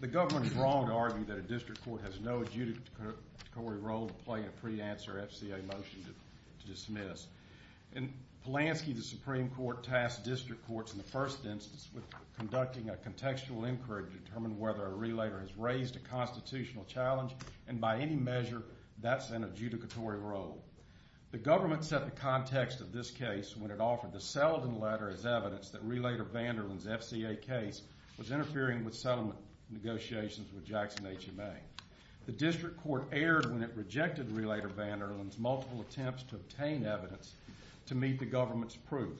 The government is wrong to argue that a district court has no adjudicatory role to play in a pre-answer FCA motion to dismiss. In Polanski, the Supreme Court tasked district courts in the first instance with conducting a contextual inquiry to determine whether a relator has raised a constitutional challenge, and by any measure, that's an adjudicatory role. The government set the context of this case when it offered the Sullivan letter as evidence that Relator Vanderland's FCA case was interfering with settlement negotiations with Jackson HMA. The district court erred when it rejected Relator Vanderland's multiple attempts to obtain evidence to meet the government's proof.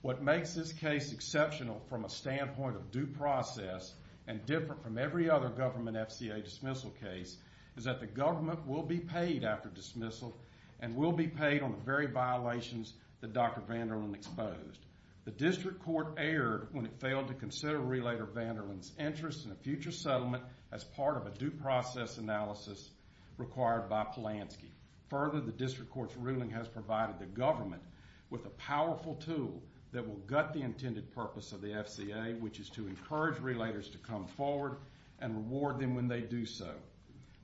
What makes this case exceptional from a standpoint of due process and different from every other government FCA dismissal case is that the government will be paid after dismissal and will be paid on the very violations that Dr. Vanderland exposed. The district court erred when it failed to consider Relator Vanderland's interest in a future settlement as part of a due process analysis required by Polanski. Further, the district court's ruling has provided the government with a powerful tool that will gut the intended purpose of the FCA, which is to encourage relators to come forward and reward them when they do so.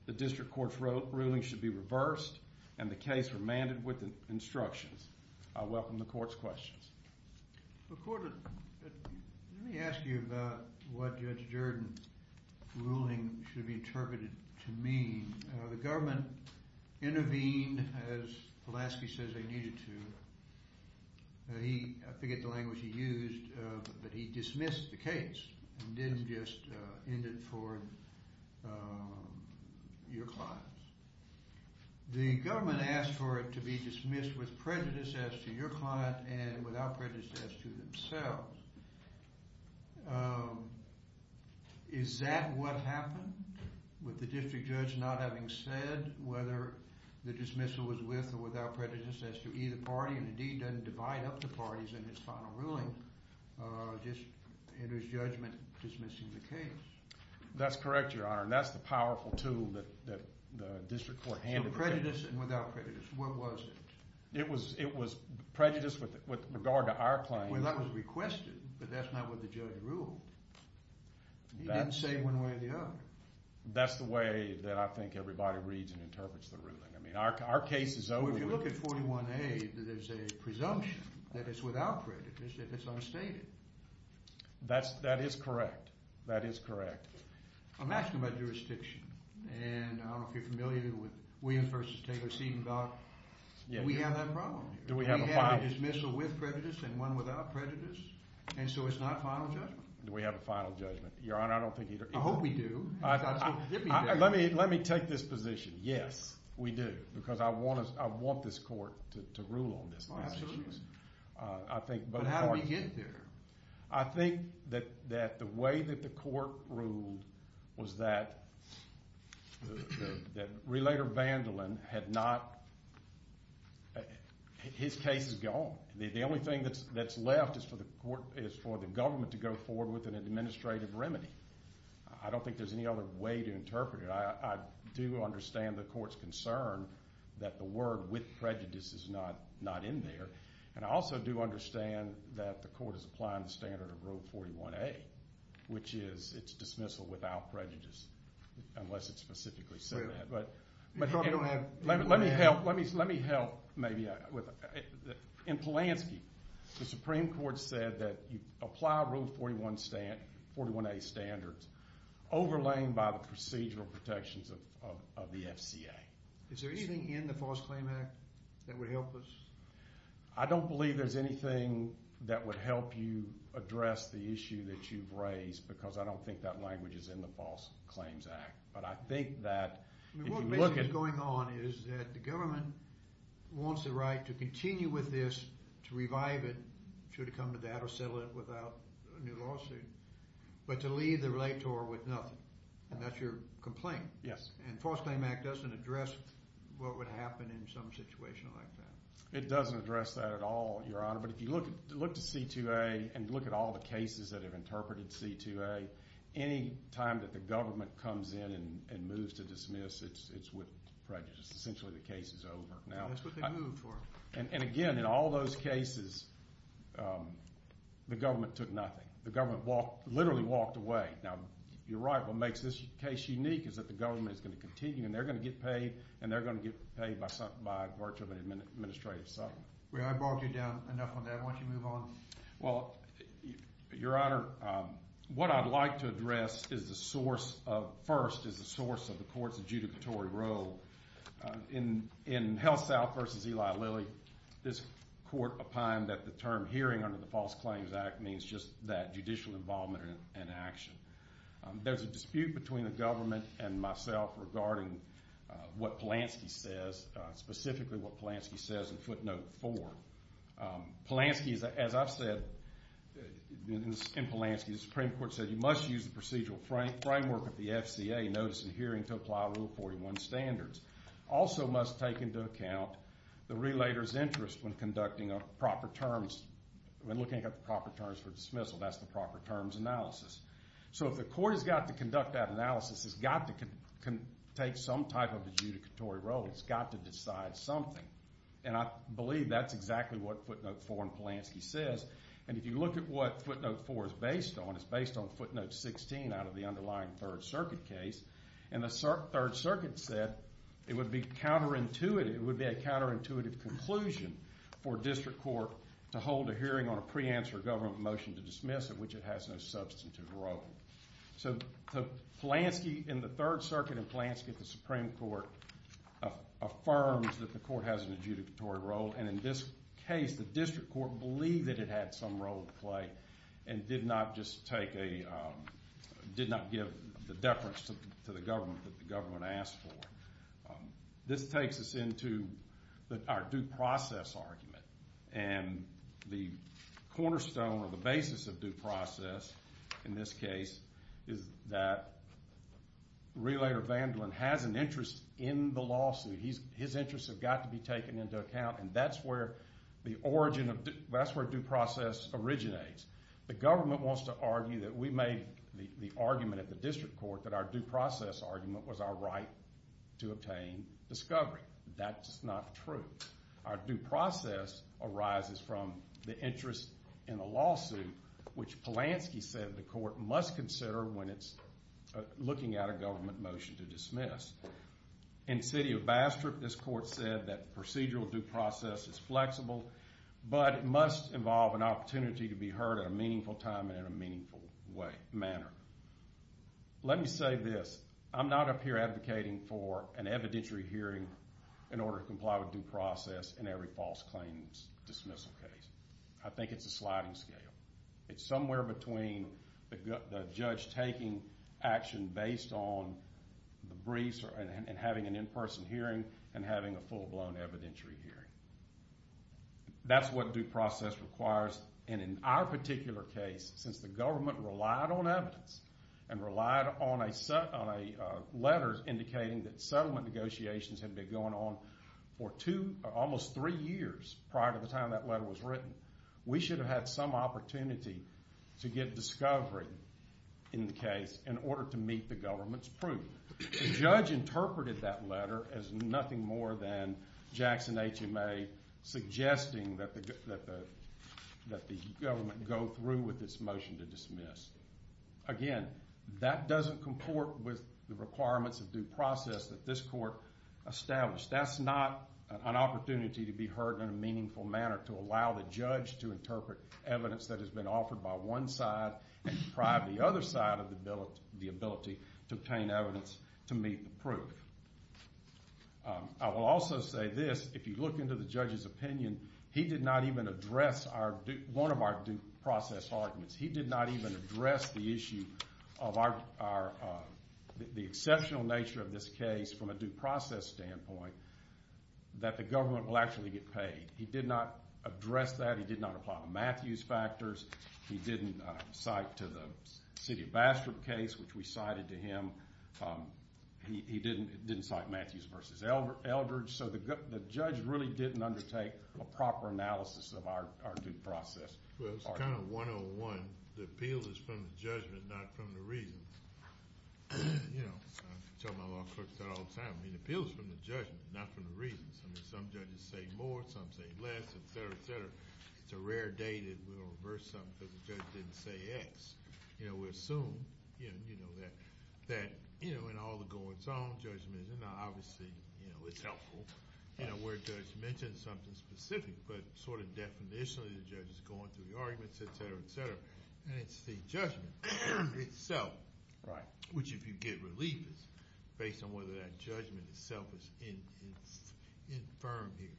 The district court's ruling should be reversed and the case remanded with instructions. I welcome the court's questions. Court, let me ask you about what Judge Jordan's ruling should be interpreted to mean. The government intervened as Polanski says they needed to. I forget the language he used, but he dismissed the case and didn't just end it for your clients. The government asked for it to be dismissed with prejudice as to your client and without prejudice as to themselves. Is that what happened? With the district judge not having said whether the dismissal was with or without prejudice as to either party, and indeed doesn't divide up the parties in his final ruling, just enters judgment dismissing the case. That's correct, Your Honor, and that's the powerful tool that the district court handed. So prejudice and without prejudice, what was it? It was prejudice with regard to our claim. Well, that was requested, but that's not what the judge ruled. He didn't say one way or the other. That's the way that I think everybody reads and interprets the ruling. I mean, our case is over. Well, if you look at 41A, there's a presumption that it's without prejudice, that it's unstated. That is correct. That is correct. I'm asking about jurisdiction, and I don't know if you're familiar with William v. Taylor Seedengard. Do we have that problem here? Do we have a final judgment? We have a dismissal with prejudice and one without prejudice, and so it's not a final judgment. Do we have a final judgment? Your Honor, I don't think either. I hope we do. Let me take this position. Yes, we do, because I want this court to rule on this matter. But how do we get there? I think that the way that the court ruled was that Relator Vandalin had not—his case is gone. The only thing that's left is for the government to go forward with an administrative remedy. I don't think there's any other way to interpret it. I do understand the court's concern that the word with prejudice is not in there, and I also do understand that the court is applying the standard of Rule 41A, which is it's dismissal without prejudice unless it's specifically said that. But let me help maybe with—in Polanski, the Supreme Court said that you apply Rule 41A standards overlaid by the procedural protections of the FCA. Is there anything in the False Claims Act that would help us? I don't believe there's anything that would help you address the issue that you've raised because I don't think that language is in the False Claims Act. But I think that if you look at— What's basically going on is that the government wants the right to continue with this, to revive it, should it come to that or settle it without a new lawsuit, but to leave the relator with nothing, and that's your complaint. And the False Claims Act doesn't address what would happen in some situation like that. It doesn't address that at all, Your Honor. But if you look to C2A and look at all the cases that have interpreted C2A, any time that the government comes in and moves to dismiss, it's with prejudice. Essentially, the case is over. That's what they moved for. And again, in all those cases, the government took nothing. The government literally walked away. Now, you're right. What makes this case unique is that the government is going to continue, and they're going to get paid, and they're going to get paid by virtue of an administrative settlement. I brought you down enough on that. Why don't you move on? Well, Your Honor, what I'd like to address first is the source of the court's adjudicatory role. In Hellsouth v. Eli Lilly, this court opined that the term hearing under the False Claims Act means just that judicial involvement in an action. There's a dispute between the government and myself regarding what Polanski says, specifically what Polanski says in footnote 4. Polanski, as I've said, in Polanski, the Supreme Court said, you must use the procedural framework of the FCA notice and hearing to apply Rule 41 standards. Also must take into account the relator's interest when conducting proper terms, when looking at the proper terms for dismissal. That's the proper terms analysis. So if the court has got to conduct that analysis, it's got to take some type of adjudicatory role. It's got to decide something. And I believe that's exactly what footnote 4 in Polanski says. And if you look at what footnote 4 is based on, it's based on footnote 16 out of the underlying Third Circuit case. And the Third Circuit said it would be counterintuitive. It would be a counterintuitive conclusion for district court to hold a hearing on a pre-answer government motion to dismiss, of which it has no substantive role. So Polanski in the Third Circuit and Polanski at the Supreme Court affirms that the court has an adjudicatory role. And in this case, the district court believed that it had some role to play and did not give the deference to the government that the government asked for. This takes us into our due process argument. And the cornerstone or the basis of due process in this case is that Relator Vandalin has an interest in the lawsuit. His interests have got to be taken into account, and that's where due process originates. The government wants to argue that we made the argument at the district court that our due process argument was our right to obtain discovery. That is not true. Our due process arises from the interest in the lawsuit, which Polanski said the court must consider when it's looking at a government motion to dismiss. In the city of Bastrop, this court said that procedural due process is flexible, but it must involve an opportunity to be heard at a meaningful time and in a meaningful manner. Let me say this. I'm not up here advocating for an evidentiary hearing in order to comply with due process in every false claims dismissal case. I think it's a sliding scale. It's somewhere between the judge taking action based on the briefs and having an in-person hearing and having a full-blown evidentiary hearing. That's what due process requires. And in our particular case, since the government relied on evidence and relied on letters indicating that settlement negotiations had been going on for almost three years prior to the time that letter was written, we should have had some opportunity to get discovery in the case in order to meet the government's proof. The judge interpreted that letter as nothing more than Jackson HMA suggesting that the government go through with this motion to dismiss. Again, that doesn't comport with the requirements of due process that this court established. That's not an opportunity to be heard in a meaningful manner to allow the judge to interpret evidence that has been offered by one side and deprive the other side of the ability to obtain evidence to meet the proof. I will also say this. If you look into the judge's opinion, he did not even address one of our due process arguments. He did not even address the issue of the exceptional nature of this case from a due process standpoint that the government will actually get paid. He did not address that. He did not apply the Matthews factors. He didn't cite to the City of Bastrop case, which we cited to him. He didn't cite Matthews v. Eldridge. So the judge really didn't undertake a proper analysis of our due process argument. Well, it's kind of one-on-one. The appeal is from the judgment, not from the reasons. I tell my law clerks that all the time. The appeal is from the judgment, not from the reasons. Some judges say more, some say less, et cetera, et cetera. It's a rare day that we're going to reverse something because the judge didn't say X. We assume that in all the goings-on judgments, and obviously it's helpful where a judge mentions something specific, but sort of definitionally the judge is going through the arguments, et cetera, et cetera. And it's the judgment itself, which if you get relief, based on whether that judgment itself is infirm here.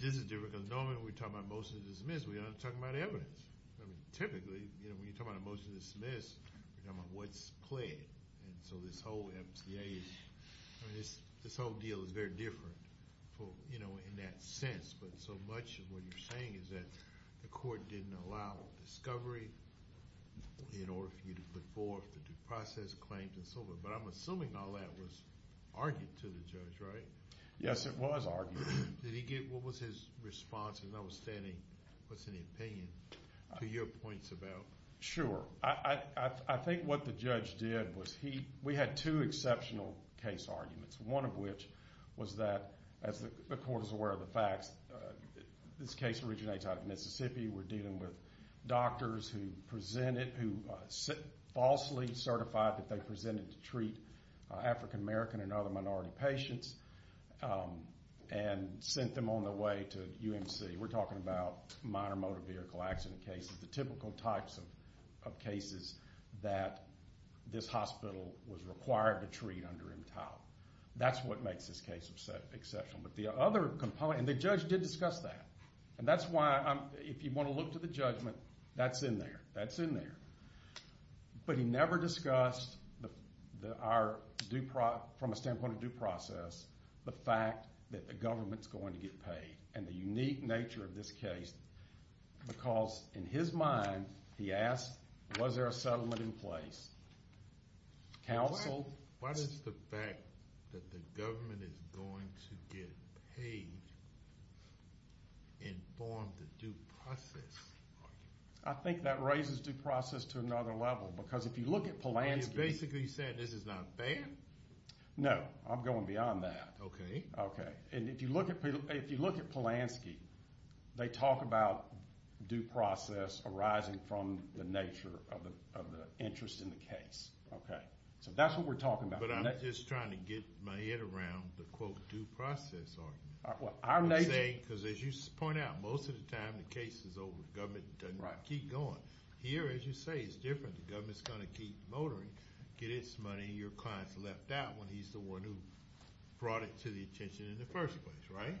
This is different because normally when we talk about motion to dismiss, we're not talking about evidence. I mean, typically when you talk about a motion to dismiss, you're talking about what's pled. And so this whole MTA, this whole deal is very different in that sense. But so much of what you're saying is that the court didn't allow discovery in order for you to put forth the due process claims and so forth. But I'm assuming all that was argued to the judge, right? Yes, it was argued. What was his response, notwithstanding what's in the opinion, to your points about? Sure. I think what the judge did was we had two exceptional case arguments, one of which was that, as the court is aware of the facts, this case originates out of Mississippi. We're dealing with doctors who presented, who falsely certified that they presented to treat African American and other minority patients and sent them on their way to UMC. We're talking about minor motor vehicle accident cases, the typical types of cases that this hospital was required to treat under MTAL. That's what makes this case exceptional. But the other component, and the judge did discuss that. And that's why, if you want to look to the judgment, that's in there. That's in there. But he never discussed from a standpoint of due process the fact that the government's going to get paid and the unique nature of this case because, in his mind, he asked, was there a settlement in place? Counsel? What is the fact that the government is going to get paid in form of the due process argument? I think that raises due process to another level because if you look at Polanski. You're basically saying this is not fair? No, I'm going beyond that. Okay. Okay. And if you look at Polanski, they talk about due process arising from the nature of the interest in the case. So that's what we're talking about. But I'm just trying to get my head around the, quote, due process argument. Because as you point out, most of the time the case is over. The government doesn't keep going. Here, as you say, it's different. The government's going to keep motoring, get its money, and your client's left out when he's the one who brought it to the attention in the first place, right?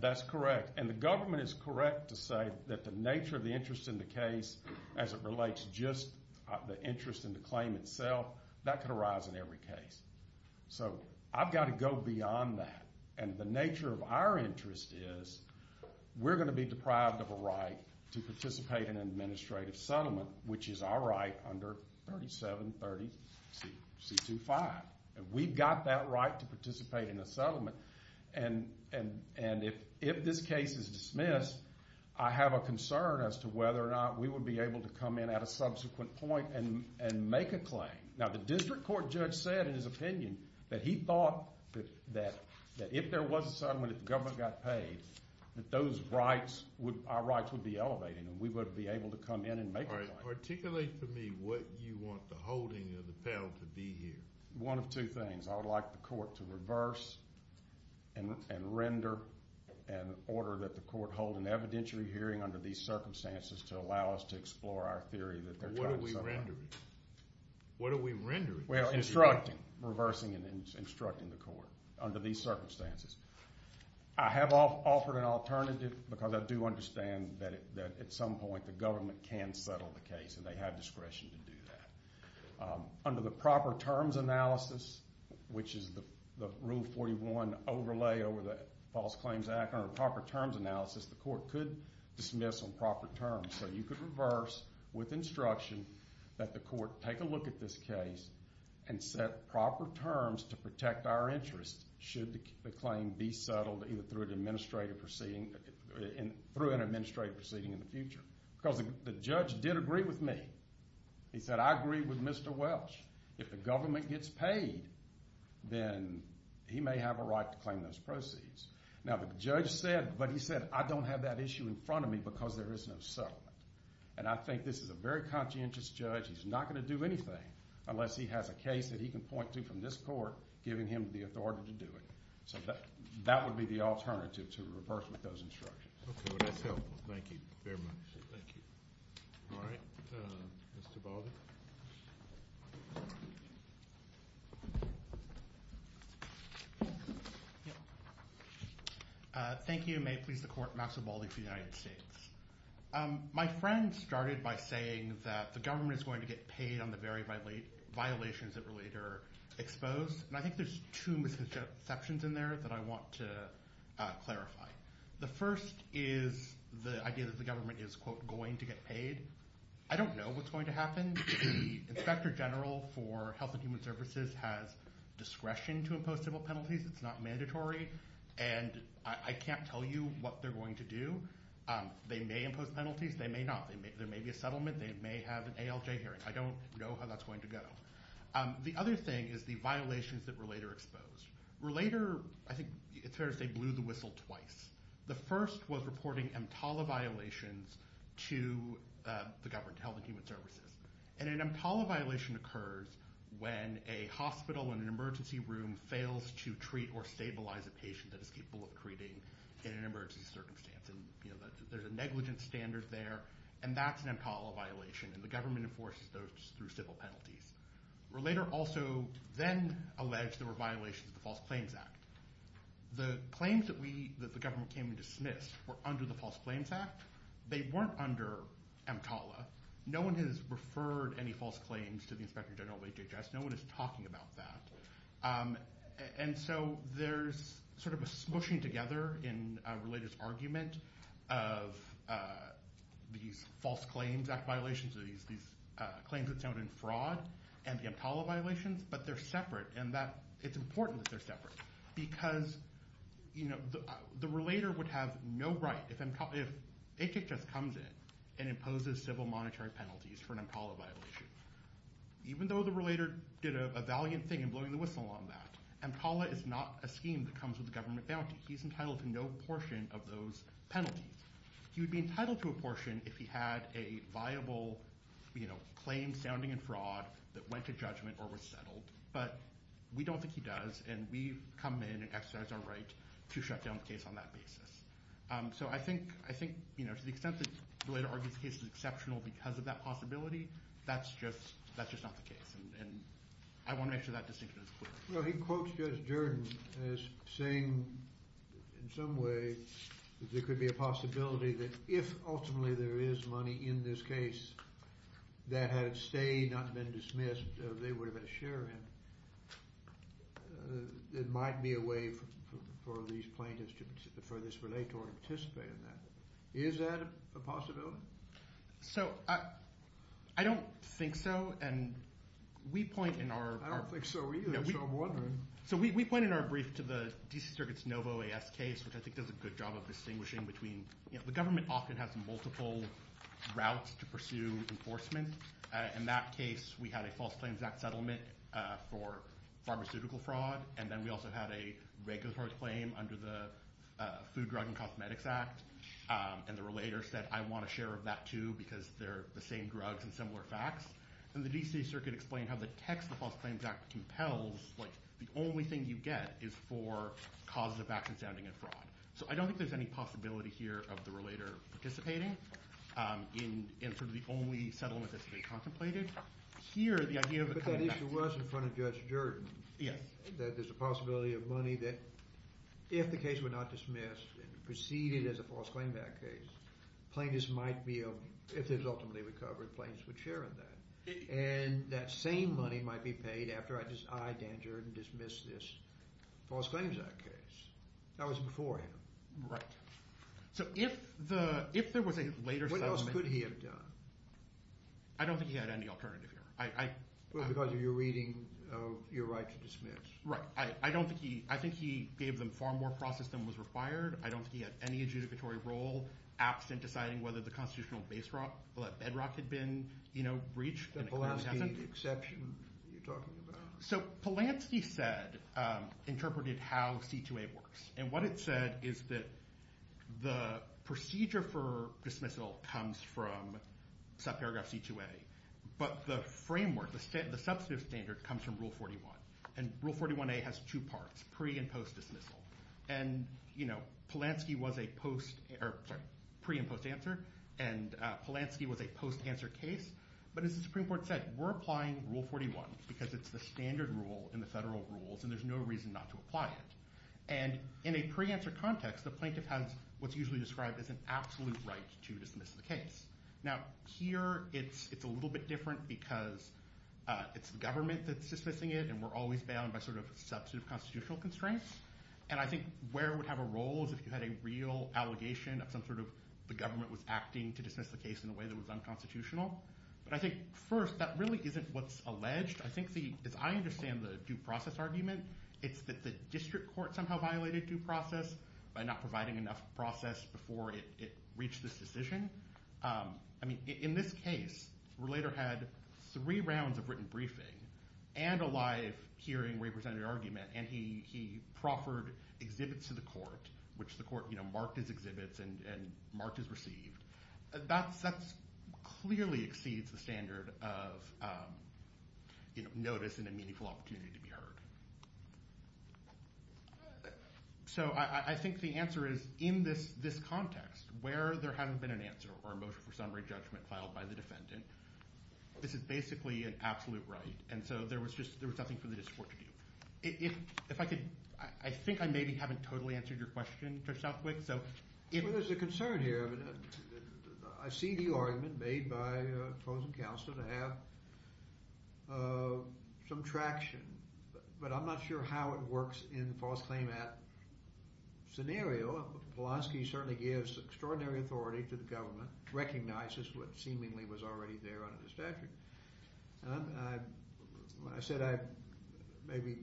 That's correct. And the government is correct to say that the nature of the interest in the case, as it relates just the interest in the claim itself, that could arise in every case. So I've got to go beyond that. And the nature of our interest is we're going to be deprived of a right to participate in an administrative settlement, which is our right under 3730C25. And we've got that right to participate in a settlement. And if this case is dismissed, I have a concern as to whether or not we would be able to come in at a subsequent point and make a claim. Now, the district court judge said in his opinion that he thought that if there was a settlement, if the government got paid, that our rights would be elevated and we would be able to come in and make a claim. All right. Articulate for me what you want the holding of the penalty to be here. One of two things. I would like the court to reverse and render an order that the court hold an evidentiary hearing under these circumstances to allow us to explore our theory that they're trying to set up. What are we rendering? What are we rendering? Well, instructing, reversing and instructing the court under these circumstances. I have offered an alternative because I do understand that at some point the government can settle the case and they have discretion to do that. Under the proper terms analysis, which is the Rule 41 overlay over the False Claims Act, under proper terms analysis, the court could dismiss on proper terms. So you could reverse with instruction that the court take a look at this case and set proper terms to protect our interest should the claim be settled either through an administrative proceeding in the future. Because the judge did agree with me. He said, I agree with Mr. Welsh. If the government gets paid, then he may have a right to claim those proceeds. Now, the judge said, but he said, I don't have that issue in front of me because there is no settlement. And I think this is a very conscientious judge. He's not going to do anything unless he has a case that he can point to from this court giving him the authority to do it. So that would be the alternative to reverse with those instructions. Okay. Well, that's helpful. Thank you very much. Thank you. All right. Mr. Baldy. Thank you. May it please the court, Maxwell Baldy for the United States. My friend started by saying that the government is going to get paid on the very violations that were later exposed. And I think there's two misconceptions in there that I want to clarify. The first is the idea that the government is, quote, going to get paid. I don't know what's going to happen. The Inspector General for Health and Human Services has discretion to impose civil penalties. It's not mandatory. And I can't tell you what they're going to do. They may impose penalties. They may not. There may be a settlement. They may have an ALJ hearing. I don't know how that's going to go. The other thing is the violations that were later exposed. Were later, I think it's fair to say, blew the whistle twice. The first was reporting EMTALA violations to the government, to Health and Human Services. And an EMTALA violation occurs when a hospital in an emergency room fails to treat or stabilize a patient that is capable of treating in an emergency circumstance. And there's a negligence standard there. And that's an EMTALA violation. And the government enforces those through civil penalties. Relator also then alleged there were violations of the False Claims Act. The claims that the government came and dismissed were under the False Claims Act. They weren't under EMTALA. No one has referred any false claims to the Inspector General of HHS. No one is talking about that. And so there's sort of a smushing together in Relator's argument of these False Claims Act violations, these claims that sound in fraud, and the EMTALA violations. But they're separate. And it's important that they're separate. Because the Relator would have no right, if HHS comes in and imposes civil monetary penalties for an EMTALA violation. Even though the Relator did a valiant thing in blowing the whistle on that, EMTALA is not a scheme that comes with government bounty. He's entitled to no portion of those penalties. He would be entitled to a portion if he had a viable claim sounding in fraud that went to judgment or was settled. But we don't think he does. And we come in and exercise our right to shut down the case on that basis. So I think to the extent that Relator argues the case is exceptional because of that possibility, that's just not the case. And I want to make sure that distinction is clear. Well, he quotes Judge Jordan as saying, in some way, that there could be a possibility that if ultimately there is money in this case that had stayed, not been dismissed, they would have had a share in it. It might be a way for these plaintiffs to defer this Relator and participate in that. Is that a possibility? So, I don't think so. And we point in our... I don't think so either, so I'm wondering. So we point in our brief to the DC Circuit's NOVO-AS case, which I think does a good job of distinguishing between... The government often has multiple routes to pursue enforcement. In that case, we had a False Claims Act settlement for pharmaceutical fraud. And then we also had a regulatory claim under the Food, Drug, and Cosmetics Act. And the Relator said, I want a share of that too because they're the same drugs and similar facts. And the DC Circuit explained how the text of the False Claims Act compels, like, the only thing you get is for causes of accident, standing, and fraud. So I don't think there's any possibility here of the Relator participating in sort of the only settlement that's being contemplated. Here, the idea of a claim... But that issue was in front of Judge Jordan. Yes. That there's a possibility of money that, if the case were not dismissed and preceded as a False Claims Act case, plaintiffs might be able... If it was ultimately recovered, plaintiffs would share in that. And that same money might be paid after I, Dan Jordan, dismiss this False Claims Act case. That was before him. Right. So if there was a later settlement... What else could he have done? I don't think he had any alternative here. Well, because of your reading of your right to dismiss. Right. I don't think he... I think he gave them far more process than was required. I don't think he had any adjudicatory role absent deciding whether the constitutional bedrock had been, you know, breached. The Polanski exception you're talking about? So Polanski said... interpreted how C2A works. And what it said is that the procedure for dismissal comes from subparagraph C2A. But the framework, the substantive standard, comes from Rule 41. And Rule 41A has two parts, pre- and post-dismissal. And, you know, Polanski was a post... Sorry, pre- and post-answer. And Polanski was a post-answer case. But as the Supreme Court said, we're applying Rule 41 because it's the standard rule in the federal rules and there's no reason not to apply it. And in a pre-answer context, the plaintiff has what's usually described as an absolute right to dismiss the case. Now, here it's a little bit different because it's the government that's dismissing it and we're always bound by sort of substantive constitutional constraints. And I think where it would have a role is if you had a real allegation of some sort of... the government was acting to dismiss the case in a way that was unconstitutional. But I think, first, that really isn't what's alleged. I think, as I understand the due process argument, it's that the district court somehow violated due process by not providing enough process before it reached this decision. I mean, in this case, Relater had three rounds of written briefing and a live hearing where he presented an argument and he proffered exhibits to the court, which the court marked as exhibits and marked as received. That clearly exceeds the standard of notice and a meaningful opportunity to be heard. So I think the answer is, in this context, where there hasn't been an answer or a motion for summary judgment filed by the defendant, this is basically an absolute right. And so there was just... there was nothing for the district court to do. If I could... I think I maybe haven't totally answered your question, Judge Southwick, so... I'm sure there's a concern here. I mean, I see the argument made by Fosen-Council to have some traction, but I'm not sure how it works in the false claim at scenario. Polanski certainly gives extraordinary authority to the government, recognizes what seemingly was already there under the statute. And I... when I said I maybe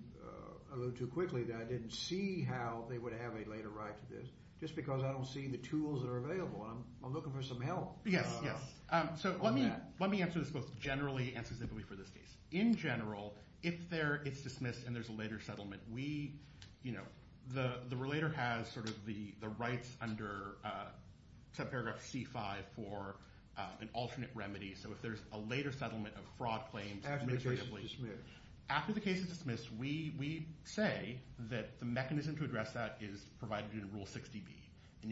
alluded too quickly that I didn't see how they would have a later right to this just because I don't see the tools that are available. I'm looking for some help. Yes, yes. So let me answer this both generally and specifically for this case. In general, if it's dismissed and there's a later settlement, we... you know, the relator has sort of the rights under subparagraph C-5 for an alternate remedy. So if there's a later settlement of fraud claims... After the case is dismissed. After the case is dismissed, we say that the mechanism to address that is provided in Rule 60B. And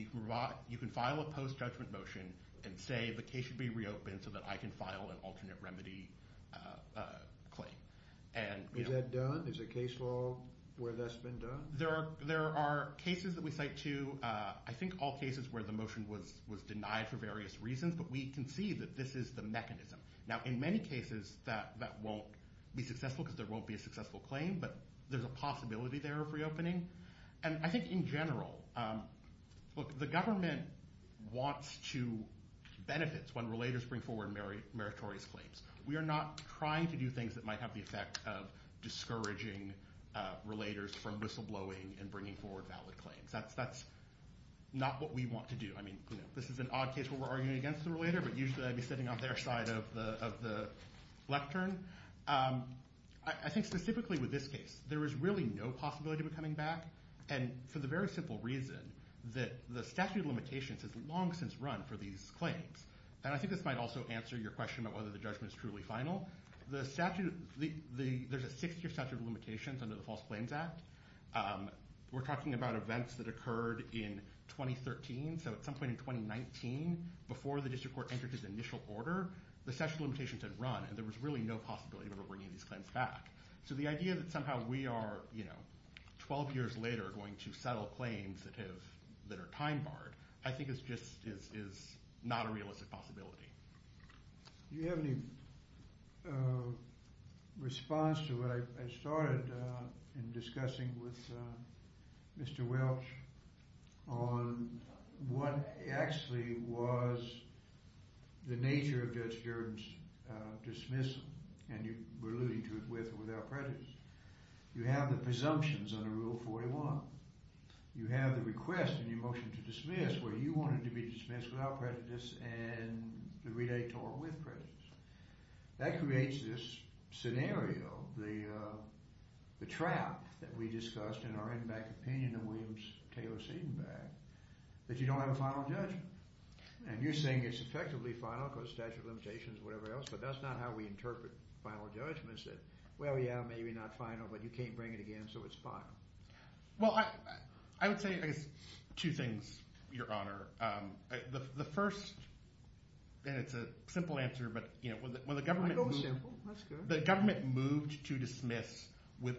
you can file a post-judgment motion and say the case should be reopened so that I can file an alternate remedy claim. And... Is that done? Is a case law where that's been done? There are cases that we cite to... I think all cases where the motion was denied for various reasons, but we can see that this is the mechanism. Now, in many cases, that won't be successful because there won't be a successful claim, but there's a possibility there of reopening. And I think in general, look, the government wants to benefit when relators bring forward meritorious claims. We are not trying to do things that might have the effect of discouraging relators from whistleblowing and bringing forward valid claims. That's not what we want to do. I mean, this is an odd case where we're arguing against the relator, but usually I'd be sitting on their side of the lectern. I think specifically with this case, there is really no possibility of it coming back. And for the very simple reason that the statute of limitations has long since run for these claims. And I think this might also answer your question about whether the judgment is truly final. The statute... There's a 60-year statute of limitations under the False Claims Act. We're talking about events that occurred in 2013. So at some point in 2019, before the district court entered its initial order, the statute of limitations had run, and there was really no possibility of it bringing these claims back. So the idea that somehow we are, you know, 12 years later going to settle claims that are time-barred, I think it's just... is not a realistic possibility. Do you have any response to what I started in discussing with Mr. Welch on what actually was the nature of Judge Hearne's dismissal? And you were alluding to it with or without prejudice. You have the presumptions under Rule 41. You have the request in your motion to dismiss where you want it to be dismissed without prejudice and the relayed to or with prejudice. That creates this scenario, the trap that we discussed in our in-back opinion of Williams Taylor Seidenbach, that you don't have a final judgment. And you're saying it's effectively final because statute of limitations, whatever else, but that's not how we interpret final judgments, that, well, yeah, maybe not final, but you can't bring it again, so it's final. Well, I would say, I guess, two things, Your Honor. The first, and it's a simple answer, but, you know, when the government moved... I go simple. That's good. The government moved to dismiss with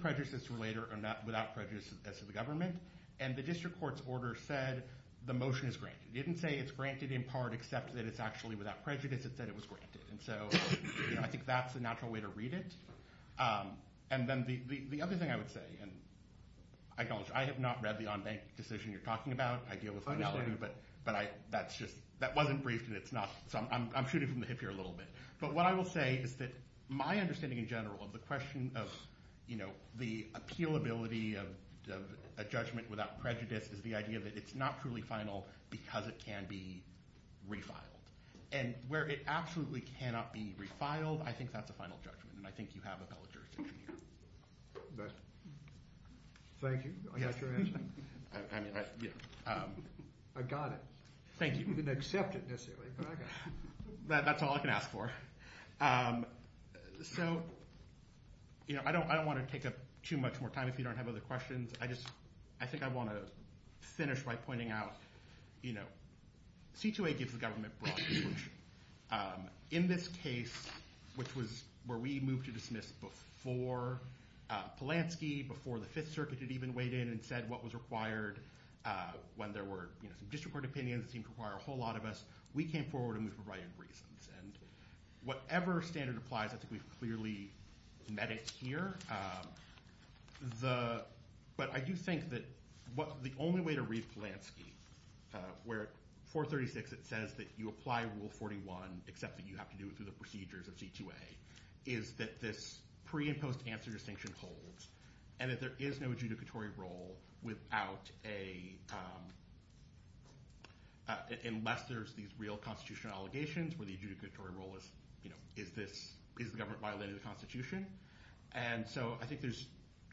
prejudice as to later or not without prejudice as to the government, and the district court's order said the motion is granted. It didn't say it's granted in part except that it's actually without prejudice. It said it was granted, and so, you know, I think that's the natural way to read it. And then the other thing I would say, and I acknowledge I have not read the on-bank decision you're talking about. I deal with finality, but that's just... that wasn't briefed, and it's not... I'm shooting from the hip here a little bit. But what I will say is that my understanding in general of the question of, you know, the appealability of a judgment without prejudice is the idea that it's not truly final because it can be refiled. And where it absolutely cannot be refiled, I think that's a final judgment, and I think you have a valid jurisdiction here. Thank you. I got your answer. I mean, I... I got it. Thank you. You didn't accept it, necessarily, but I got it. That's all I can ask for. So, you know, I don't want to take up too much more time if you don't have other questions. I just... I think I want to finish by pointing out, you know, C2A gives the government broad solution. In this case, which was... where we moved to dismiss before Polanski, before the Fifth Circuit had even weighed in and said what was required when there were, you know, some district court opinions that seemed to require a whole lot of us, we came forward and we provided reasons. And whatever standard applies, I think we've clearly met it here. The... but I do think that what... the only way to read Polanski, where 436, it says that you apply Rule 41, except that you have to do it through the procedures of C2A, is that this pre- and post-answer distinction holds and that there is no adjudicatory role without a... unless there's these real constitutional allegations where the adjudicatory role is, you know, is this... is the government violating the Constitution? And so I think there's...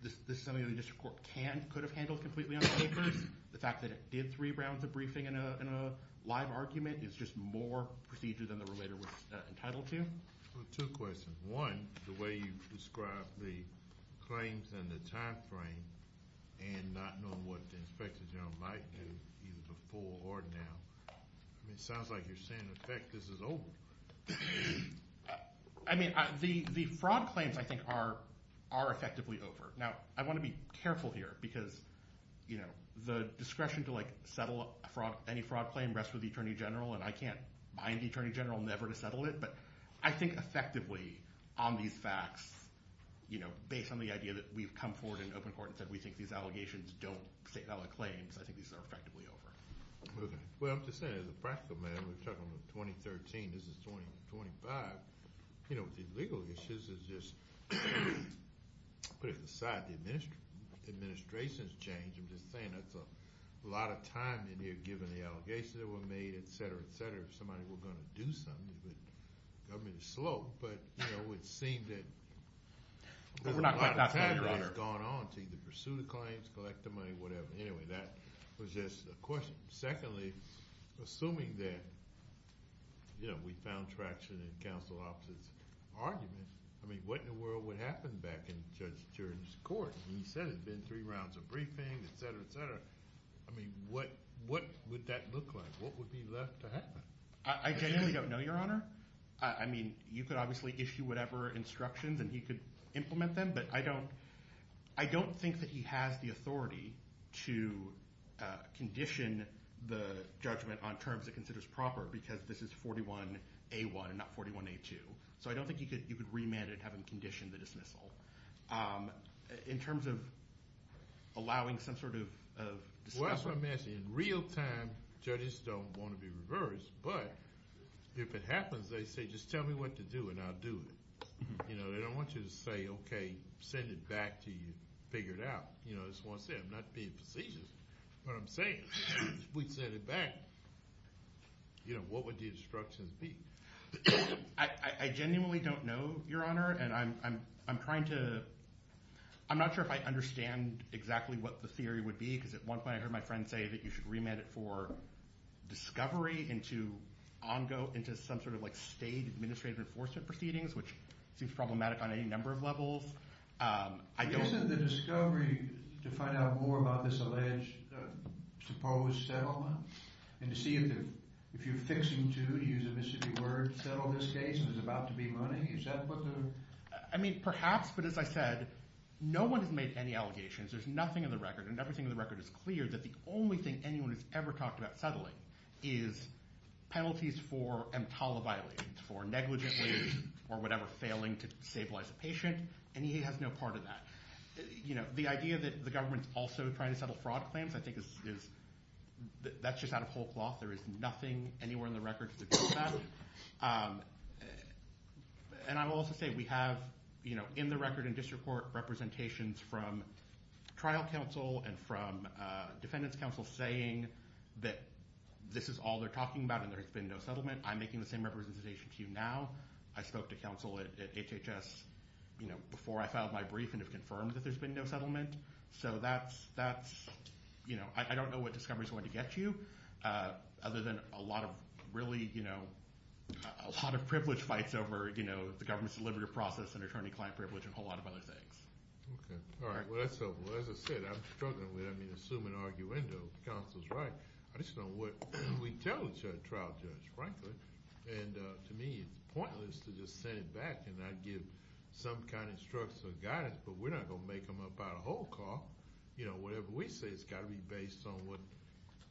this is something that the district court can... could have handled completely on papers. The fact that it did three rounds of briefing in a live argument is just more procedure than the relator was entitled to. Well, two questions. One, the way you described the claims and the time frame and not knowing what the inspector general might do either before or now. I mean, it sounds like you're saying, in effect, this is over. I mean, the fraud claims, I think, are effectively over. Now, I want to be careful here because, you know, the discretion to, like, settle any fraud claim rests with the attorney general, and I can't bind the attorney general never to settle it. But I think, effectively, on these facts, you know, based on the idea that we've come forward in open court and said we think these allegations don't state valid claims, I think these are effectively over. Okay. Well, I'm just saying, as a practical matter, we're talking about 2013, this is 2025. You know, the legal issues is just... Putting aside the administration's change, I'm just saying that's a lot of time in here given the allegations that were made, et cetera, et cetera. If somebody were going to do something, the government is slow, but, you know, it seemed that... There's a lot of time that has gone on to either pursue the claims, collect the money, whatever. Anyway, that was just a question. Secondly, assuming that, you know, we found traction in counsel officers' arguments, I mean, what in the world would happen back in Judge Turin's court? He said it had been three rounds of briefing, et cetera, et cetera. I mean, what would that look like? What would be left to happen? I genuinely don't know, Your Honor. I mean, you could obviously issue whatever instructions and he could implement them, but I don't... I don't think that he has the authority to condition the judgment on terms it considers proper because this is 41A1 and not 41A2. So I don't think you could remand it having conditioned the dismissal in terms of allowing some sort of... Well, that's what I'm asking. In real time, judges don't want to be reversed, but if it happens, they say, just tell me what to do and I'll do it. You know, they don't want you to say, okay, send it back to you, figure it out. You know, that's what I'm saying. I'm not being facetious, but I'm saying, if we'd send it back, you know, what would the instructions be? I genuinely don't know, Your Honor, and I'm trying to... I'm not sure if I understand exactly what the theory would be because at one point I heard my friend say that you should remand it for discovery into some sort of state administrative enforcement proceedings, which seems problematic on any number of levels. I don't... Isn't the discovery to find out more about this alleged supposed settlement and to see if you're fixing to, to use a mischievous word, settle this case and there's about to be money? Is that what the... I mean, perhaps, but as I said, no one has made any allegations. There's nothing in the record, and everything in the record is clear that the only thing anyone has ever talked about settling is penalties for EMTALA violations, for negligently or whatever failing to stabilize a patient, and he has no part of that. You know, the idea that the government's also trying to settle fraud claims, I think, is... That's just out of whole cloth. There is nothing anywhere in the record to suggest that. And I will also say we have, you know, in the record in district court representations from trial counsel and from defendants counsel saying that this is all they're talking about and there has been no settlement. I'm making the same representation to you now. I spoke to counsel at HHS, you know, before I filed my brief and have confirmed that there's been no settlement. So that's, you know, I don't know what discovery is going to get you other than a lot of really, you know, a lot of privilege fights over, you know, the government's deliberative process and attorney-client privilege and a whole lot of other things. Okay. All right. Well, that's helpful. As I said, I'm struggling with, I mean, assuming arguendo counsel's right, I just don't know what we tell the trial judge, frankly. And to me, it's pointless to just send it back and not give some kind of instruction or guidance, but we're not going to make him up out of a whole car. You know, whatever we say, it's got to be based on what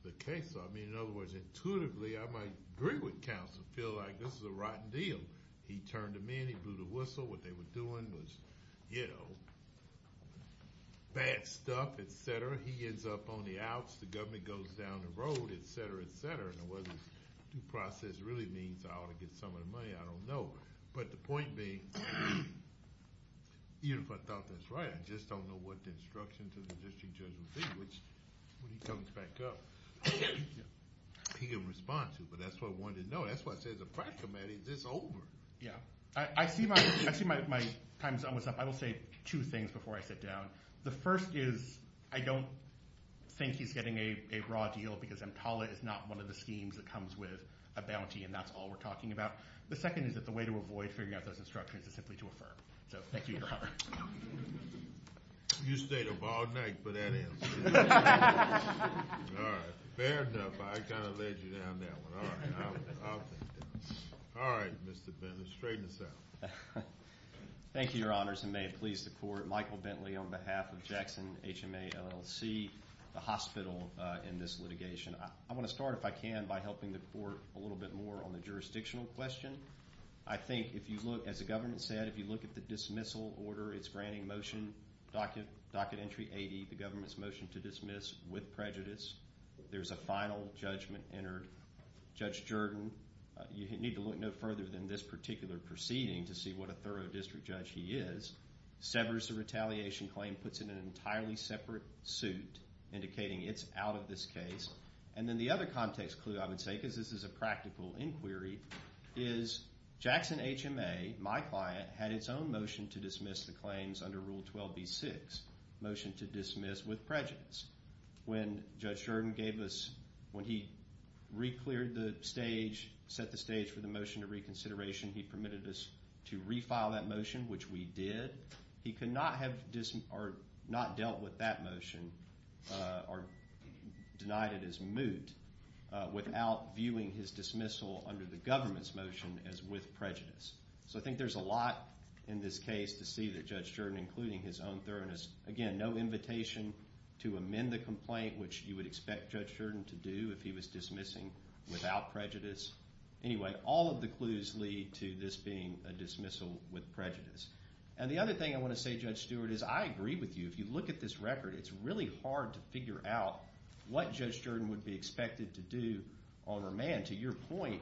the case is. I mean, in other words, intuitively I might agree with counsel, feel like this is a rotten deal. He turned to me and he blew the whistle. What they were doing was, you know, bad stuff, et cetera. He ends up on the outs, the government goes down the road, et cetera, et cetera. And whether this due process really means I ought to get some of the money, I don't know. But the point being, even if I thought this right, I just don't know what the instruction to the district judge would be, which, when he comes back up, he can respond to it. But that's what I wanted to know. That's why I said as a practical matter, it's over. Yeah. I see my time's almost up. I will say two things before I sit down. The first is, I don't think he's getting a raw deal because EMTALA is not one of the schemes that comes with a bounty, and that's all we're talking about. The second is that the way to avoid figuring out those instructions is simply to affirm. So thank you, Your Honor. You stayed up all night for that answer. All right. Fair enough. I kind of led you down that one. All right. I'll take that. All right, Mr. Bentley. Straighten this out. Thank you, Your Honors, and may it please the Court, Michael Bentley on behalf of Jackson HMA LLC, the hospital in this litigation. I want to start, if I can, by helping the Court a little bit more on the jurisdictional question. I think if you look, as the government said, if you look at the dismissal order, it's granting motion, docket entry 80, the government's motion to dismiss with prejudice. There's a final judgment entered. Judge Jordan, you need to look no further than this particular proceeding to see what a thorough district judge he is. Severs the retaliation claim, puts it in an entirely separate suit, indicating it's out of this case. And then the other context clue, I would say, because this is a practical inquiry, is Jackson HMA, my client, had its own motion to dismiss the claims under Rule 12b-6, motion to dismiss with prejudice. When Judge Jordan gave us, when he recleared the stage, set the stage for the motion to reconsideration, he permitted us to refile that motion, which we did. He could not have, or not dealt with that motion, or denied it as moot, without viewing his dismissal under the government's motion as with prejudice. So I think there's a lot in this case to see that Judge Jordan, including his own thoroughness, again, no invitation to amend the complaint, which you would expect Judge Jordan to do if he was dismissing without prejudice. Anyway, all of the clues lead to this being a dismissal with prejudice. And the other thing I want to say, Judge Stewart, is I agree with you. If you look at this record, it's really hard to figure out what Judge Jordan would be expected to do on remand. To your point,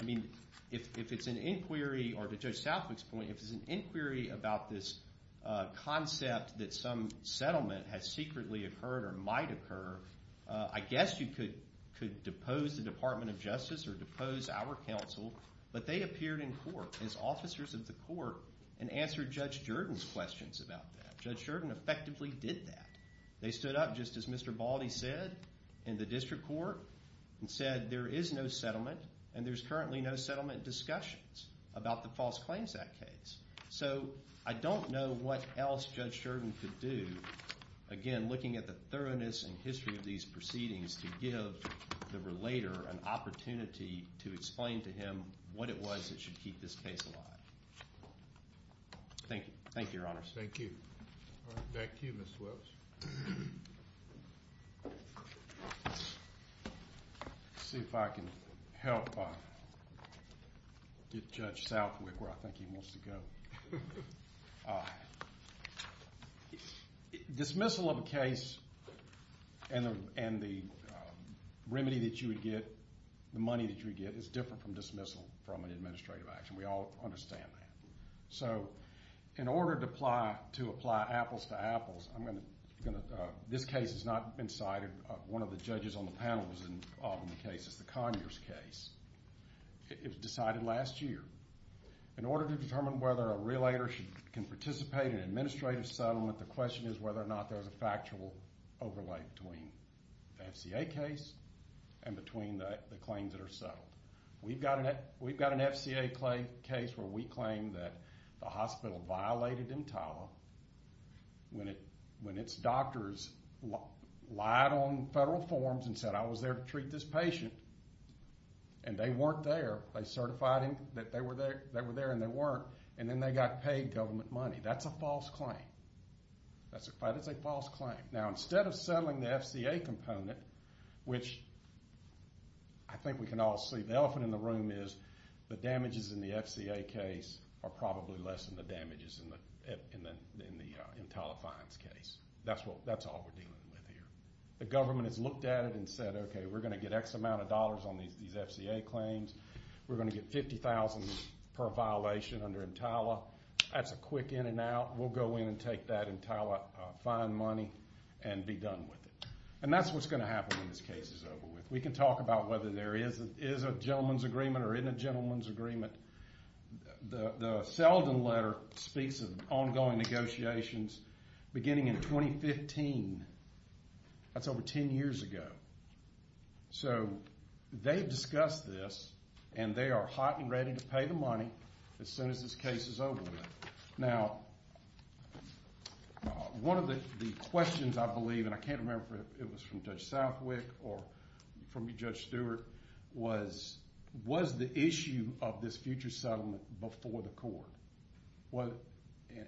I mean, if it's an inquiry, or to Judge Southwick's point, if it's an inquiry about this concept that some settlement has secretly occurred or might occur, I guess you could depose the Department of Justice or depose our counsel, but they appeared in court as officers of the court and answered Judge Jordan's questions about that. Judge Jordan effectively did that. They stood up, just as Mr. Baldy said, in the district court, and said there is no settlement and there's currently no settlement discussions about the False Claims Act case. So I don't know what else Judge Jordan could do, again, looking at the thoroughness and history of these proceedings, to give the relator an opportunity to explain to him what it was that should keep this case alive. Thank you. Thank you, Your Honors. Thank you. All right, back to you, Mr. Willis. Let's see if I can help get Judge Southwick where I think he wants to go. Dismissal of a case and the remedy that you would get, the money that you would get, is different from dismissal from an administrative action. We all understand that. So in order to apply apples to apples, this case has not been cited. One of the judges on the panel was involved in the case. It's the Conyers case. It was decided last year. In order to determine whether a relator can participate in an administrative settlement, the question is whether or not there's a factual overlay between the FCA case and between the claims that are settled. We've got an FCA case where we claim that the hospital violated EMTALA when its doctors lied on federal forms and said, I was there to treat this patient, and they weren't there. They certified that they were there, and they weren't, and then they got paid government money. That's a false claim. That is a false claim. Now, instead of settling the FCA component, which I think we can all see. The elephant in the room is the damages in the FCA case are probably less than the damages in the EMTALA fines case. That's all we're dealing with here. The government has looked at it and said, okay, we're going to get X amount of dollars on these FCA claims. We're going to get $50,000 per violation under EMTALA. That's a quick in and out. We'll go in and take that EMTALA fine money and be done with it. And that's what's going to happen when this case is over with. We can talk about whether there is a gentleman's agreement or isn't a gentleman's agreement. The Selden letter speaks of ongoing negotiations beginning in 2015. That's over 10 years ago. So they've discussed this, and they are hot and ready to pay the money as soon as this case is over with. Now, one of the questions, I believe, and I can't remember if it was from Judge Southwick or from Judge Stewart, was the issue of this future settlement before the court.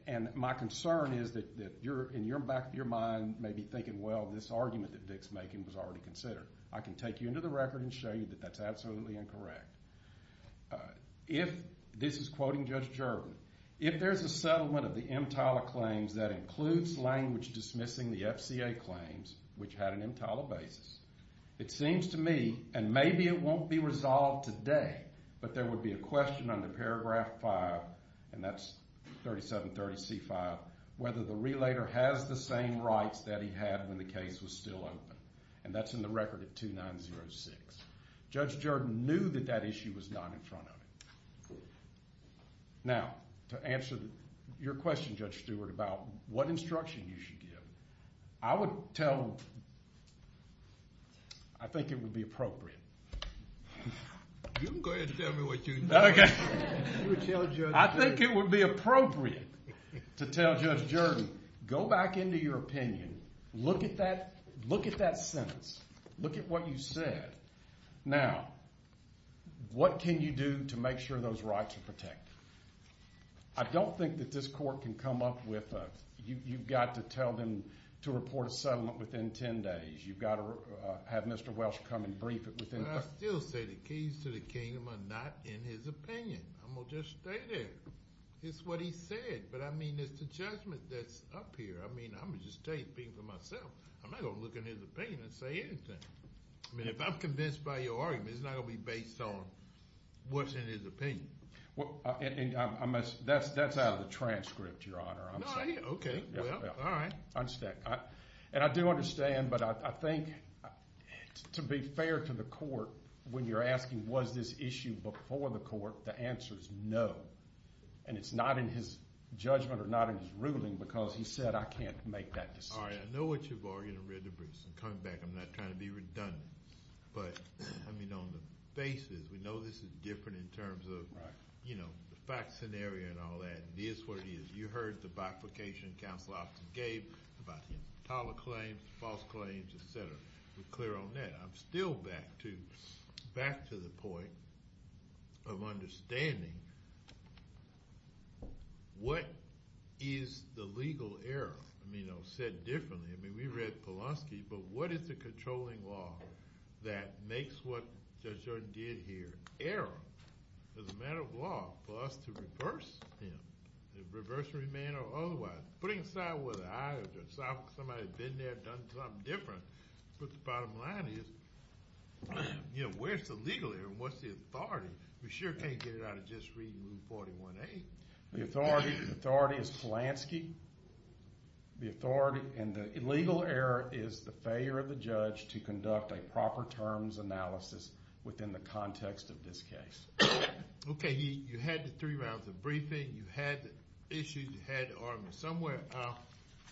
And my concern is that in the back of your mind you may be thinking, well, this argument that Dick's making was already considered. I can take you into the record and show you that that's absolutely incorrect. This is quoting Judge Gerben. If there's a settlement of the EMTALA claims that includes language dismissing the FCA claims, which had an EMTALA basis, it seems to me, and maybe it won't be resolved today, but there would be a question under paragraph 5, and that's 3730C5, whether the relator has the same rights that he had when the case was still open. And that's in the record at 2906. Judge Gerben knew that that issue was not in front of him. Now, to answer your question, Judge Stewart, about what instruction you should give, I would tell... I think it would be appropriate. You can go ahead and tell me what you know. I think it would be appropriate to tell Judge Gerben, go back into your opinion, look at that sentence, look at what you said. Now, what can you do to make sure those rights are protected? I don't think that this court can come up with a... You've got to tell them to report a settlement within 10 days. You've got to have Mr. Welsh come and brief it within... But I still say the keys to the kingdom are not in his opinion. I'm going to just stay there. It's what he said. But, I mean, it's the judgment that's up here. I mean, I'm going to just stay speaking for myself. I'm not going to look in his opinion and say anything. I mean, if I'm convinced by your argument, it's not going to be based on what's in his opinion. Well, that's out of the transcript, Your Honor. Okay. All right. And I do understand, but I think, to be fair to the court, when you're asking was this issue before the court, the answer is no. And it's not in his judgment or not in his ruling because he said I can't make that decision. All right. I know what you've argued and read the briefs. I'm coming back. I'm not trying to be redundant. But, I mean, on the basis, we know this is different in terms of, you know, the fact scenario and all that. It is what it is. You heard the bifurcation counsel often gave about the intolerant claims, false claims, et cetera. We're clear on that. I'm still back to the point of understanding what is the legal error. I mean, I'll say it differently. I mean, we read Polonsky, but what is the controlling law that makes what Judge Jordan did here error as a matter of law for us to reverse him in a reversory manner or otherwise? Putting aside whether I or somebody had been there, done something different, but the bottom line is, you know, where's the legal error and what's the authority? We sure can't get it out of just reading Rule 41A. The authority is Polonsky. The authority and the legal error is the failure of the judge to conduct a proper terms analysis within the context of this case. Okay. You had the three rounds of briefing. You had the issues. You had the arguments. Somewhere I'll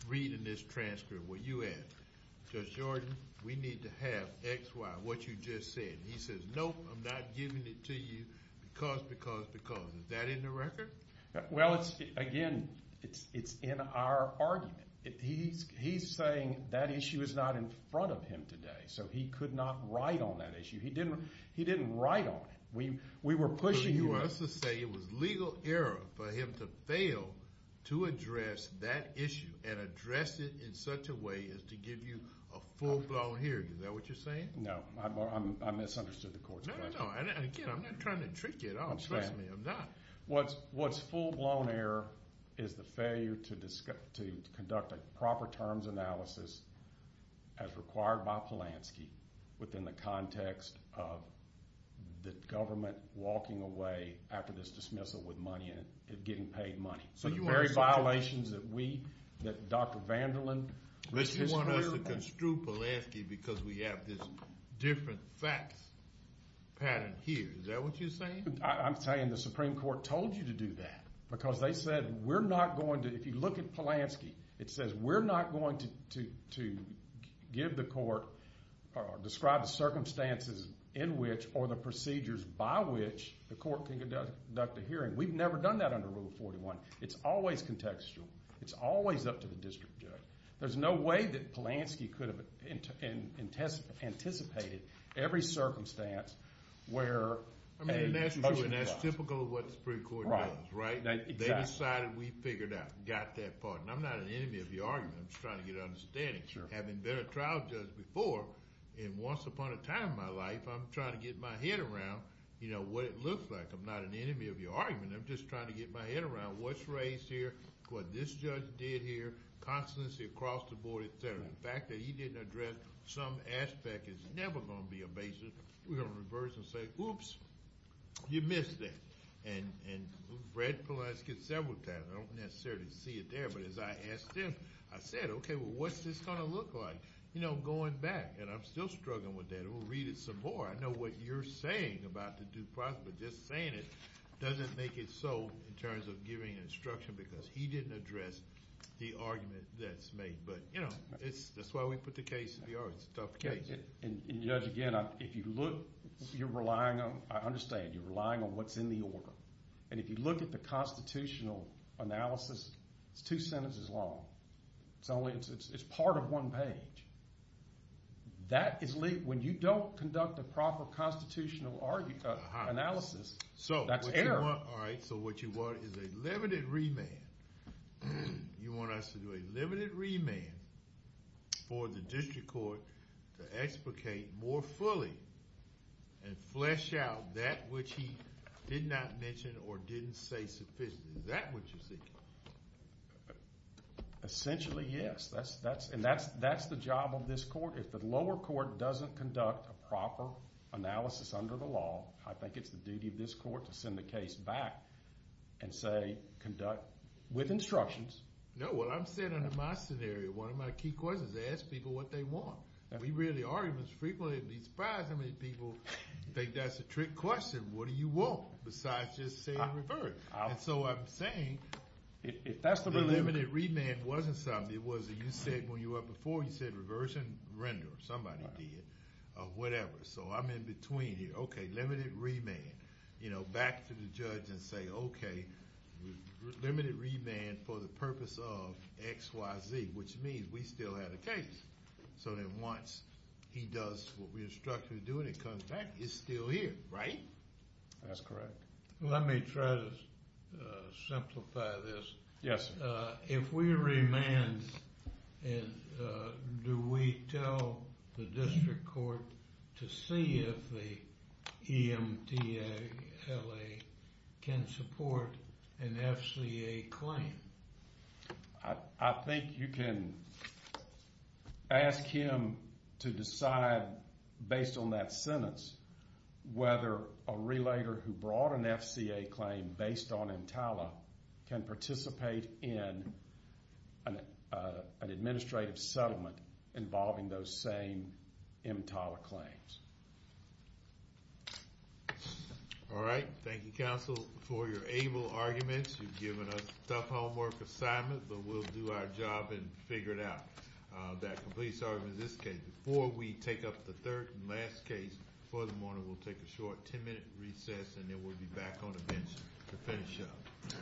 read in this transcript what you had. Judge Jordan, we need to have X, Y, what you just said. He says, Nope, I'm not giving it to you because, because, because. Is that in the record? Well, again, it's in our argument. He's saying that issue is not in front of him today, so he could not write on that issue. He didn't write on it. We were pushing you. So you want us to say it was legal error for him to fail to address that issue and address it in such a way as to give you a full-blown hearing. Is that what you're saying? No. I misunderstood the court's question. No, no, no. Again, I'm not trying to trick you at all. Trust me, I'm not. What's full-blown error is the failure to conduct a proper terms analysis as required by Polanski within the context of the government walking away after this dismissal with money and getting paid money. So the very violations that we, that Dr. Vanderland, Mr. Struble. But you want us to construe Polanski because we have this different facts pattern here. Is that what you're saying? I'm saying the Supreme Court told you to do that because they said we're not going to, if you look at Polanski, it says we're not going to give the court or describe the circumstances in which or the procedures by which the court can conduct a hearing. We've never done that under Rule 41. It's always contextual. It's always up to the district judge. There's no way that Polanski could have anticipated every circumstance where. I mean, that's typical of what the Supreme Court does, right? They decided we figured out, got that part, and I'm not an enemy of your argument. I'm just trying to get an understanding. Having been a trial judge before, and once upon a time in my life, I'm trying to get my head around what it looks like. I'm not an enemy of your argument. I'm just trying to get my head around what's raised here, what this judge did here, constancy across the board, et cetera. The fact that he didn't address some aspect is never going to be a basis. We're going to reverse and say, oops, you missed that. And we've read Polanski several times. I don't necessarily see it there. But as I asked him, I said, okay, well, what's this going to look like? You know, going back, and I'm still struggling with that. We'll read it some more. I know what you're saying about the due process. But just saying it doesn't make it so in terms of giving instruction because he didn't address the argument that's made. But, you know, that's why we put the case in the order. It's a tough case. And, Judge, again, if you look, you're relying on, I understand, you're relying on what's in the order. And if you look at the constitutional analysis, it's two sentences long. It's part of one page. When you don't conduct a proper constitutional analysis, that's error. All right, so what you want is a limited remand. You want us to do a limited remand for the district court to explicate more fully and flesh out that which he did not mention or didn't say sufficiently. Is that what you're thinking? Essentially, yes. And that's the job of this court. If the lower court doesn't conduct a proper analysis under the law, I think it's the duty of this court to send the case back and say conduct with instructions. No, what I'm saying under my scenario, one of my key questions, ask people what they want. We hear the arguments frequently. I'd be surprised how many people think that's a trick question. What do you want besides just saying reverse? And so I'm saying if the limited remand wasn't something, it wasn't you said when you were up before, you said reversion, render. Somebody did. Whatever. So I'm in between here. Okay, limited remand. Back to the judge and say, okay, limited remand for the purpose of XYZ, which means we still have a case. So then once he does what we instructed him to do and it comes back, it's still here, right? That's correct. Let me try to simplify this. Yes, sir. If we remand, do we tell the district court to see if the EMTLA can support an FCA claim? I think you can ask him to decide based on that sentence whether a relator who brought an FCA claim based on EMTLA can participate in an administrative settlement involving those same EMTLA claims. All right. Thank you, counsel, for your able arguments. You've given us a tough homework assignment, but we'll do our job and figure it out. That completes our argument in this case. Before we take up the third and last case for the morning, we'll take a short 10-minute recess, and then we'll be back on the bench to finish up.